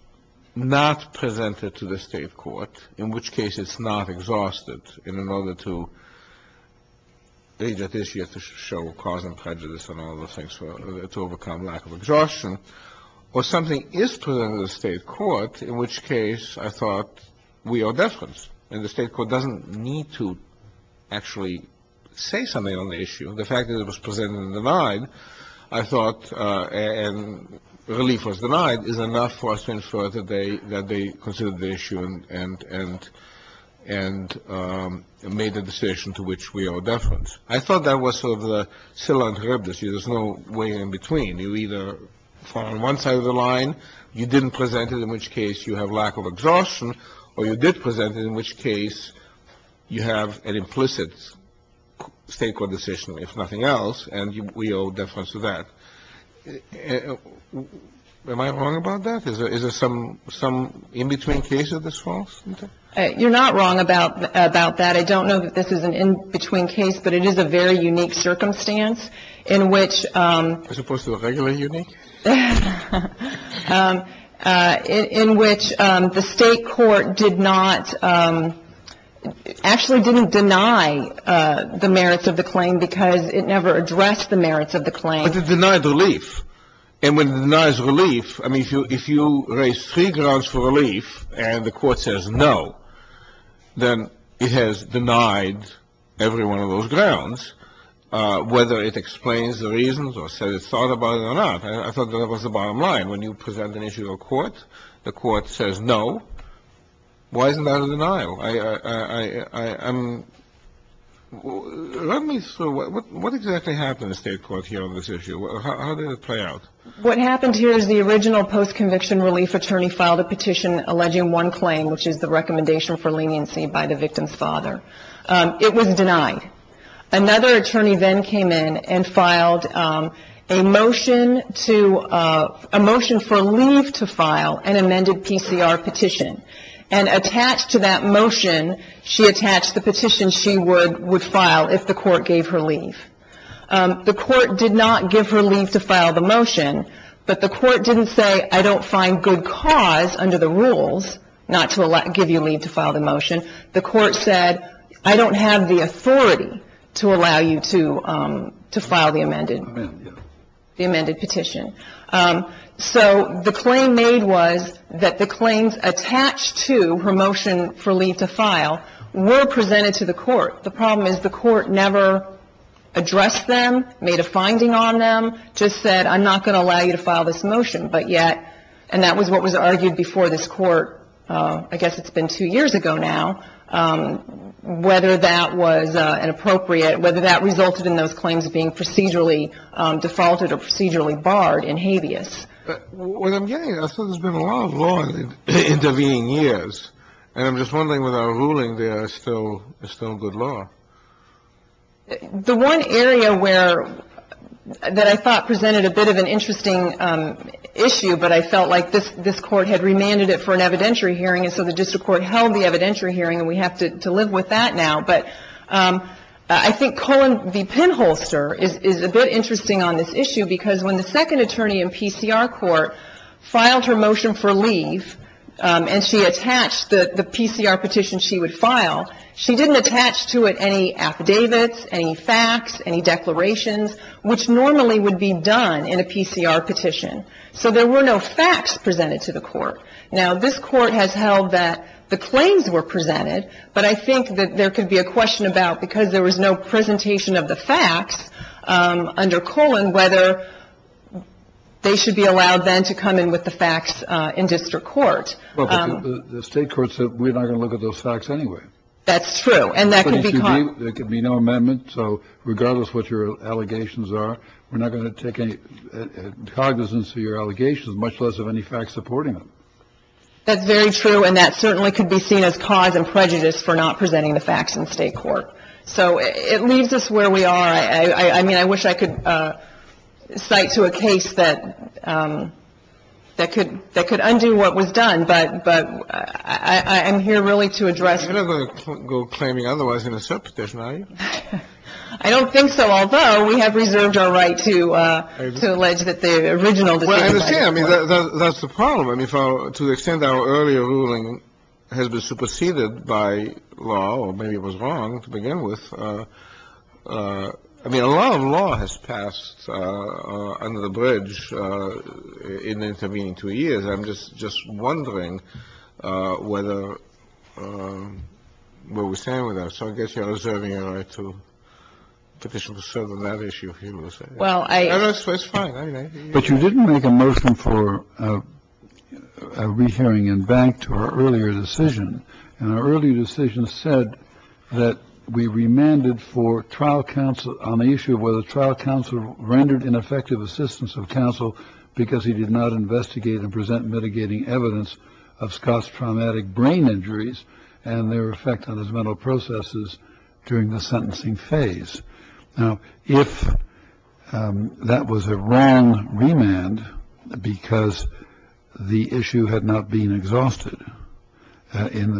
not presented to the state court, in which case it's not exhausted in order to show cause and prejudice and all those things to overcome lack of exhaustion, or something is presented to the state court, in which case I thought we owe deference. And the state court doesn't need to actually say something on the issue. The fact that it was presented and denied, I thought, and relief was denied, is enough for us to infer that they considered the issue and made a decision to which we owe deference. I thought that was sort of the syllabus. There's no way in between. You either fall on one side of the line. You didn't present it, in which case you have lack of exhaustion. Or you did present it, in which case you have an implicit state court decision, if nothing else, and we owe deference to that. Am I wrong about that? Is there some in-between case that's false? You're not wrong about that. I don't know that this is an in-between case, but it is a very unique circumstance in which the state court did not actually didn't deny the merits of the claim because it never addressed the merits of the claim. But it denied relief. And when it denies relief, I mean, if you raise three grounds for relief and the court says no, then it has denied every one of those grounds, whether it explains the reasons or says it thought about it or not. I thought that was the bottom line. When you present an issue to a court, the court says no. Why isn't that a denial? I am — let me — what exactly happened in the state court here on this issue? How did it play out? What happened here is the original post-conviction relief attorney filed a petition alleging one claim, which is the recommendation for leniency by the victim's father. It was denied. Another attorney then came in and filed a motion to — a motion for leave to file an amended PCR petition. And attached to that motion, she attached the petition she would file if the court gave her leave. The court did not give her leave to file the motion, but the court didn't say I don't find good cause under the rules not to give you leave to file the motion. The court said I don't have the authority to allow you to file the amended petition. So the claim made was that the claims attached to her motion for leave to file were presented to the court. The problem is the court never addressed them, made a finding on them, just said I'm not going to allow you to file this motion, but yet — and that was what was argued before this court, I guess it's been two years ago now, whether that was inappropriate, whether that resulted in those claims being procedurally defaulted or procedurally barred in habeas. But what I'm getting at is there's been a lot of law intervening years, and I'm just wondering whether our ruling there is still good law. The one area where — that I thought presented a bit of an interesting issue, but I felt like this court had remanded it for an evidentiary hearing, and so the district court held the evidentiary hearing, and we have to live with that now. But I think Colin v. Penholster is a bit interesting on this issue, because when the second attorney in PCR court filed her motion for leave, and she attached the PCR petition she would file, she didn't attach to it any affidavits, any facts, any declarations, which normally would be done in a PCR petition. So there were no facts presented to the court. Now, this court has held that the claims were presented, but I think that there could be a question about, because there was no presentation of the facts under Colin, whether they should be allowed then to come in with the facts in district court. The state court said we're not going to look at those facts anyway. That's true. And that could be — There could be no amendment, so regardless of what your allegations are, we're not going to take cognizance of your allegations, much less of any facts supporting them. That's very true, and that certainly could be seen as cause and prejudice for not presenting the facts in state court. So it leaves us where we are. I mean, I wish I could cite to a case that could undo what was done, but I'm here really to address — You're not going to go claiming otherwise in a cert petition, are you? I don't think so, although we have reserved our right to allege that the original decision — Well, I understand. I mean, that's the problem. I mean, to the extent our earlier ruling has been superseded by law, or maybe it was wrong to begin with, I mean, a lot of law has passed under the bridge in the intervening two years. I'm just wondering whether — what we're saying with that. So I guess you are reserving your right to petition to settle that issue, if you will say. Well, I — No, no, it's fine. But you didn't make a motion for a rehearing and back to our earlier decision. And our earlier decision said that we remanded for trial counsel on the issue of whether of Scott's traumatic brain injuries and their effect on his mental processes during the sentencing phase. Now, if that was a wrong remand because the issue had not been exhausted in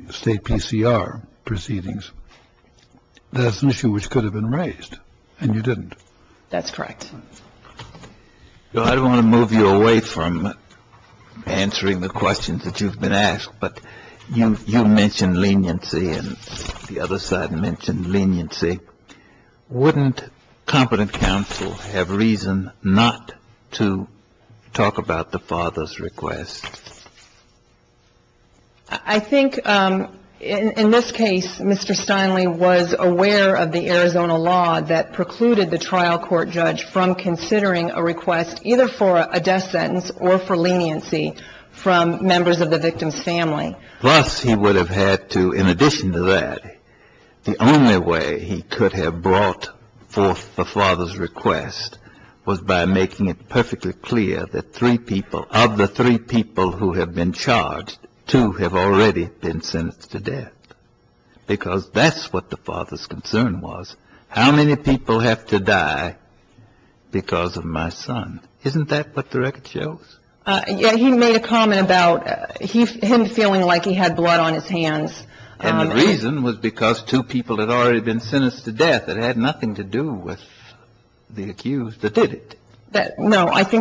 the state PCR proceedings, there's an issue which could have been raised and you didn't. That's correct. Well, I don't want to move you away from answering the questions that you've been asked, but you mentioned leniency and the other side mentioned leniency. Wouldn't competent counsel have reason not to talk about the father's request? I think in this case, Mr. Steinle was aware of the Arizona law that precluded the trial court judge from considering a request either for a death sentence or for leniency from members of the victim's family. Plus, he would have had to — in addition to that, the only way he could have brought forth the father's request was by making it perfectly clear that three people — of the three people who have been charged, two have already been sentenced to death because that's what the father's concern was. How many people have to die because of my son? Isn't that what the record shows? Yeah, he made a comment about him feeling like he had blood on his hands. And the reason was because two people had already been sentenced to death. I think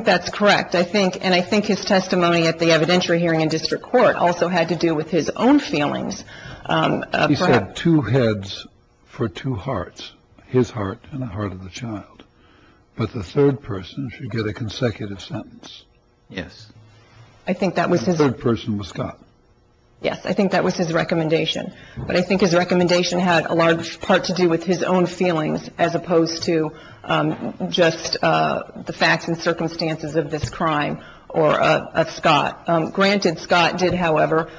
that's correct. And I think his testimony at the evidentiary hearing in district court also had to do with his own feelings. He said two heads for two hearts, his heart and the heart of the child. But the third person should get a consecutive sentence. Yes. I think that was his — The third person was Scott. Yes, I think that was his recommendation. But I think his recommendation had a large part to do with his own feelings. As opposed to just the facts and circumstances of this crime or of Scott. Granted, Scott did, however,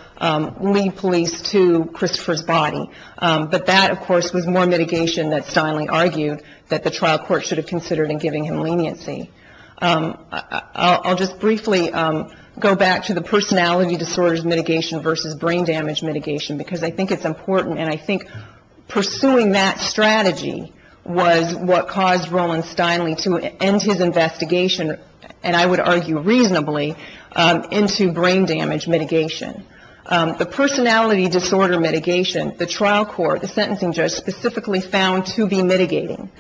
lead police to Christopher's body. But that, of course, was more mitigation that Steinle argued that the trial court should have considered in giving him leniency. I'll just briefly go back to the personality disorders mitigation versus brain damage mitigation because I think it's important and I think pursuing that strategy was what caused Roland Steinle to end his investigation, and I would argue reasonably, into brain damage mitigation. The personality disorder mitigation, the trial court, the sentencing judge, specifically found to be mitigating.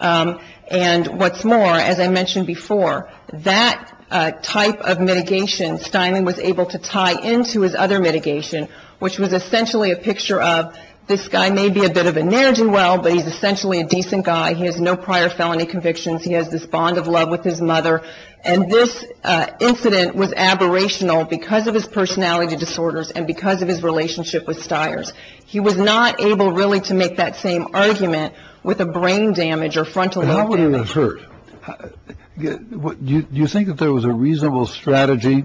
And what's more, as I mentioned before, that type of mitigation Steinle was able to tie into his other mitigation, which was essentially a picture of this guy may be a bit of a nerd and well, but he's essentially a decent guy. He has no prior felony convictions. He has this bond of love with his mother. And this incident was aberrational because of his personality disorders and because of his relationship with Stiers. He was not able really to make that same argument with a brain damage or frontal. How would it have hurt? Do you think that there was a reasonable strategy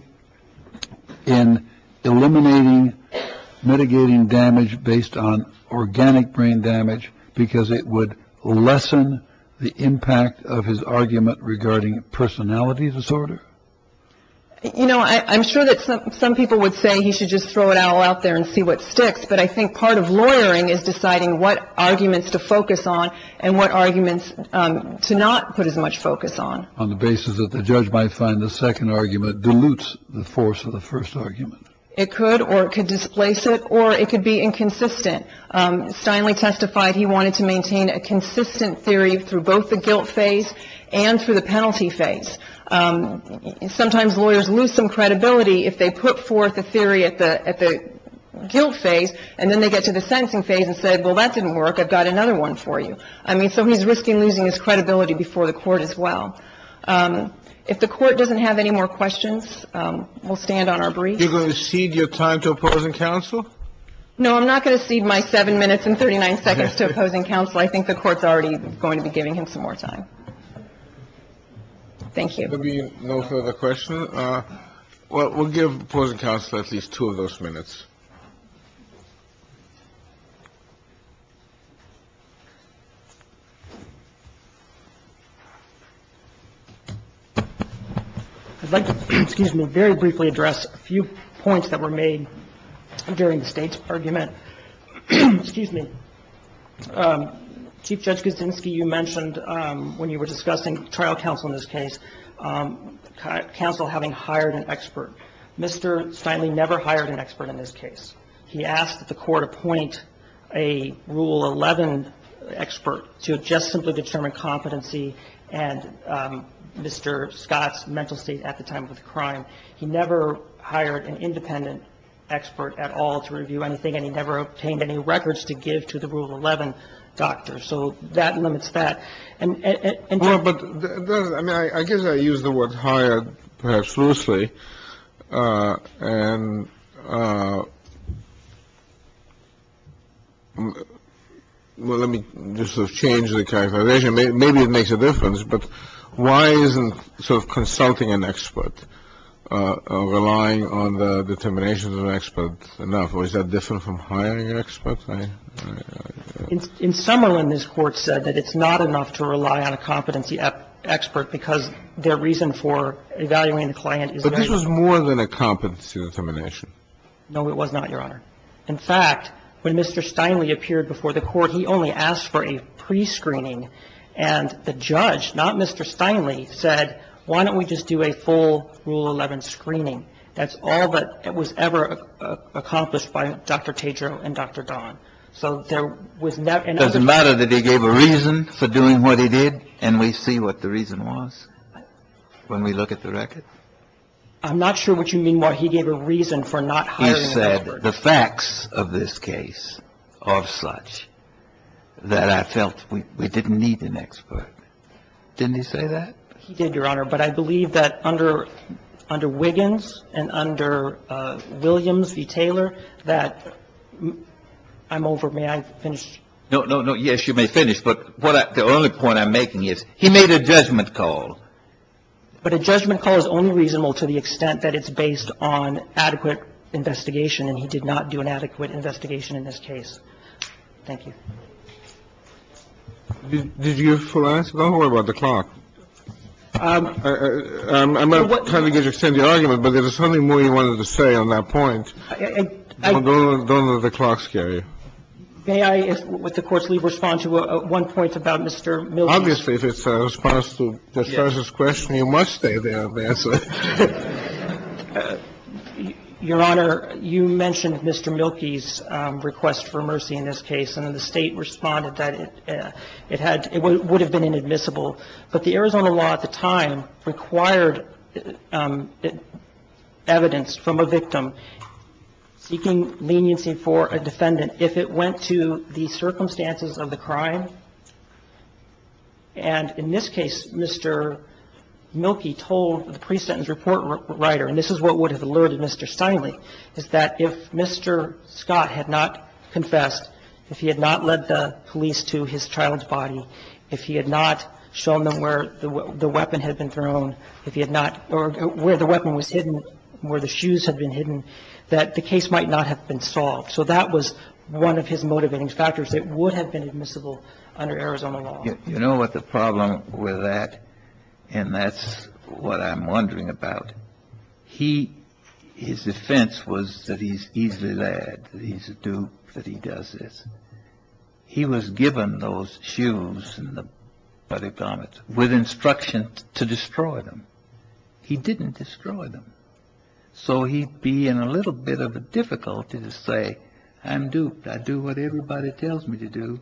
in eliminating mitigating damage based on organic brain damage? Because it would lessen the impact of his argument regarding personality disorder. You know, I'm sure that some people would say he should just throw it all out there and see what sticks. But I think part of lawyering is deciding what arguments to focus on and what arguments to not put as much focus on. On the basis that the judge might find the second argument dilutes the force of the first argument. It could or could displace it or it could be inconsistent. Steinle testified he wanted to maintain a consistent theory through both the guilt phase and through the penalty phase. Sometimes lawyers lose some credibility if they put forth a theory at the guilt phase and then they get to the sentencing phase and say, well, that didn't work. I've got another one for you. I mean, so he's risking losing his credibility before the Court as well. If the Court doesn't have any more questions, we'll stand on our brief. You're going to cede your time to opposing counsel? No, I'm not going to cede my 7 minutes and 39 seconds to opposing counsel. I think the Court's already going to be giving him some more time. Thank you. There will be no further questions. We'll give opposing counsel at least two of those minutes. I'd like to very briefly address a few points that were made during the State's argument. Excuse me. Chief Judge Kuczynski, you mentioned when you were discussing trial counsel in this case, counsel having hired an expert. Mr. Steinle never hired an expert in this case. He asked that the Court appoint a Rule 11 expert to just simply determine competency and Mr. Scott's mental state at the time of the crime. He never hired an independent expert at all to review anything, and he never obtained any records to give to the Rule 11 doctor. So that limits that. But I mean, I guess I use the word hired perhaps loosely. And let me just sort of change the characterization. Maybe it makes a difference. But why isn't sort of consulting an expert, relying on the determinations of an expert enough? Or is that different from hiring an expert? In Summerlin, this Court said that it's not enough to rely on a competency expert because their reason for evaluating the client is very different. But this was more than a competency determination. No, it was not, Your Honor. In fact, when Mr. Steinle appeared before the Court, he only asked for a prescreening. And the judge, not Mr. Steinle, said, why don't we just do a full Rule 11 screening? That's all that was ever accomplished by Dr. Tedro and Dr. Don. So there was never an opportunity. It doesn't matter that he gave a reason for doing what he did, and we see what the reason was when we look at the records? I'm not sure what you mean by he gave a reason for not hiring an expert. He said the facts of this case are such that I felt we didn't need an expert. Didn't he say that? He did, Your Honor. But I believe that under Wiggins and under Williams v. Taylor, that I'm over. May I finish? No, no, no. Yes, you may finish. But the only point I'm making is he made a judgment call. But a judgment call is only reasonable to the extent that it's based on adequate investigation, and he did not do an adequate investigation in this case. Thank you. Did you have a full answer? Don't worry about the clock. I'm not trying to get you to extend the argument, but there was certainly more you wanted to say on that point. Don't let the clock scare you. May I, with the Court's leave, respond to one point about Mr. Milton? Obviously, if it's a response to the judge's question, you must stay there and answer. Your Honor, you mentioned Mr. Milton's request for mercy in this case, and the State responded that it had – it would have been inadmissible. But the Arizona law at the time required evidence from a victim seeking leniency for a defendant if it went to the circumstances of the crime. And in this case, Mr. Milkey told the pre-sentence report writer, and this is what would have alluded Mr. Steinle, is that if Mr. Scott had not confessed, if he had not led the police to his child's body, if he had not shown them where the weapon had been thrown, if he had not – or where the weapon was hidden, where the shoes had been hidden, that the case might not have been solved. So that was one of his motivating factors. It would have been admissible under Arizona law. You know what the problem with that? And that's what I'm wondering about. He – his defense was that he's easily led, that he's a dupe, that he does this. He was given those shoes and the body garments with instruction to destroy them. He didn't destroy them. So he'd be in a little bit of a difficulty to say, I'm duped, I do what everybody tells me to do,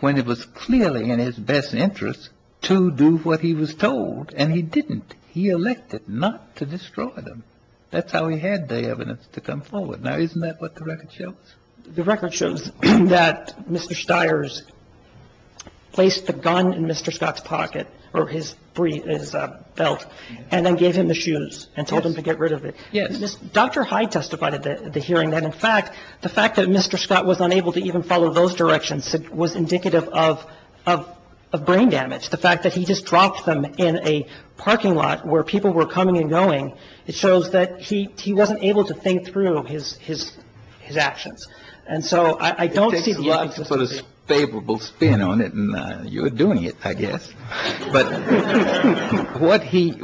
when it was clearly in his best interest to do what he was told, and he didn't. He elected not to destroy them. That's how he had the evidence to come forward. Now, isn't that what the record shows? The record shows that Mr. Stiers placed the gun in Mr. Scott's pocket, or his belt, and then gave him the shoes and told him to get rid of it. Yes. Dr. Hyde testified at the hearing that, in fact, the fact that Mr. Scott was unable to even follow those directions was indicative of brain damage. The fact that he just dropped them in a parking lot where people were coming and going, it shows that he wasn't able to think through his actions. And so I don't see the evidence to support that. It takes a lot for a favorable spin on it, and you're doing it, I guess. But what he –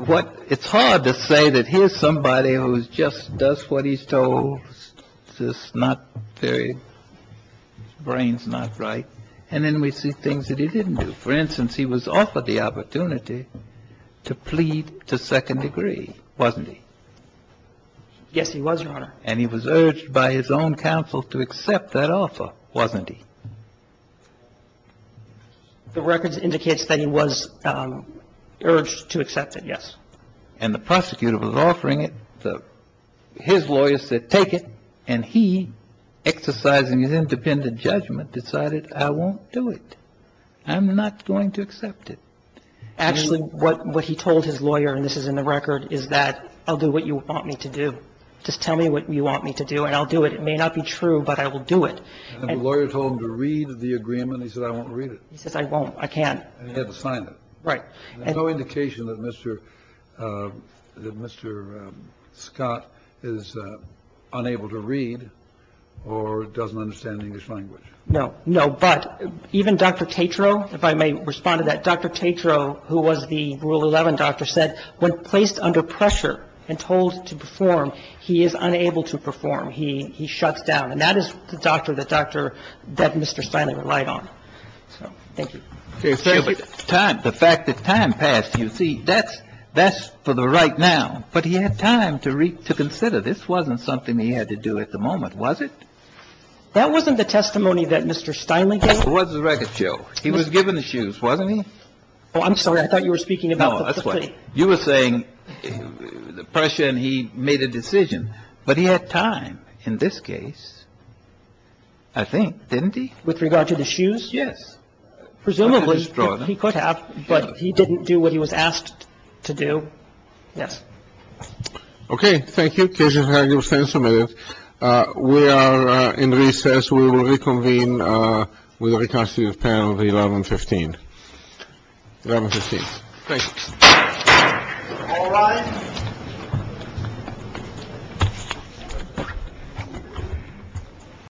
it's hard to say that here's somebody who just does what he's told, is just not very – his brain's not right, and then we see things that he didn't do. For instance, he was offered the opportunity to plead to second degree, wasn't he? Yes, he was, Your Honor. And he was urged by his own counsel to accept that offer, wasn't he? The record indicates that he was urged to accept it, yes. And the prosecutor was offering it. His lawyer said, take it. And he, exercising his independent judgment, decided, I won't do it. I'm not going to accept it. Actually, what he told his lawyer, and this is in the record, is that I'll do what you want me to do. Just tell me what you want me to do and I'll do it. It may not be true, but I will do it. And the lawyer told him to read the agreement. He said, I won't read it. He says, I won't. I can't. And he had to sign it. Right. There's no indication that Mr. Scott is unable to read or doesn't understand English language. No. No. But even Dr. Tatro, if I may respond to that, Dr. Tatro, who was the Rule 11 doctor, said when placed under pressure and told to perform, he is unable to perform. He shuts down. And that is the doctor that Dr. — that Mr. Steinle relied on. So, thank you. The fact that time passed, you see, that's for the right now. But he had time to consider. This wasn't something he had to do at the moment, was it? That wasn't the testimony that Mr. Steinle gave. That was the record, Joe. He was given the shoes, wasn't he? Oh, I'm sorry. I thought you were speaking about the plea. No, that's fine. You were saying pressure and he made a decision. But he had time in this case, I think. Didn't he? With regard to the shoes? Yes. Presumably he could have, but he didn't do what he was asked to do. Yes. Okay. Thank you. We are in recess. We will reconvene with the reconstitutive panel at 1115. 1115. Thank you. All rise.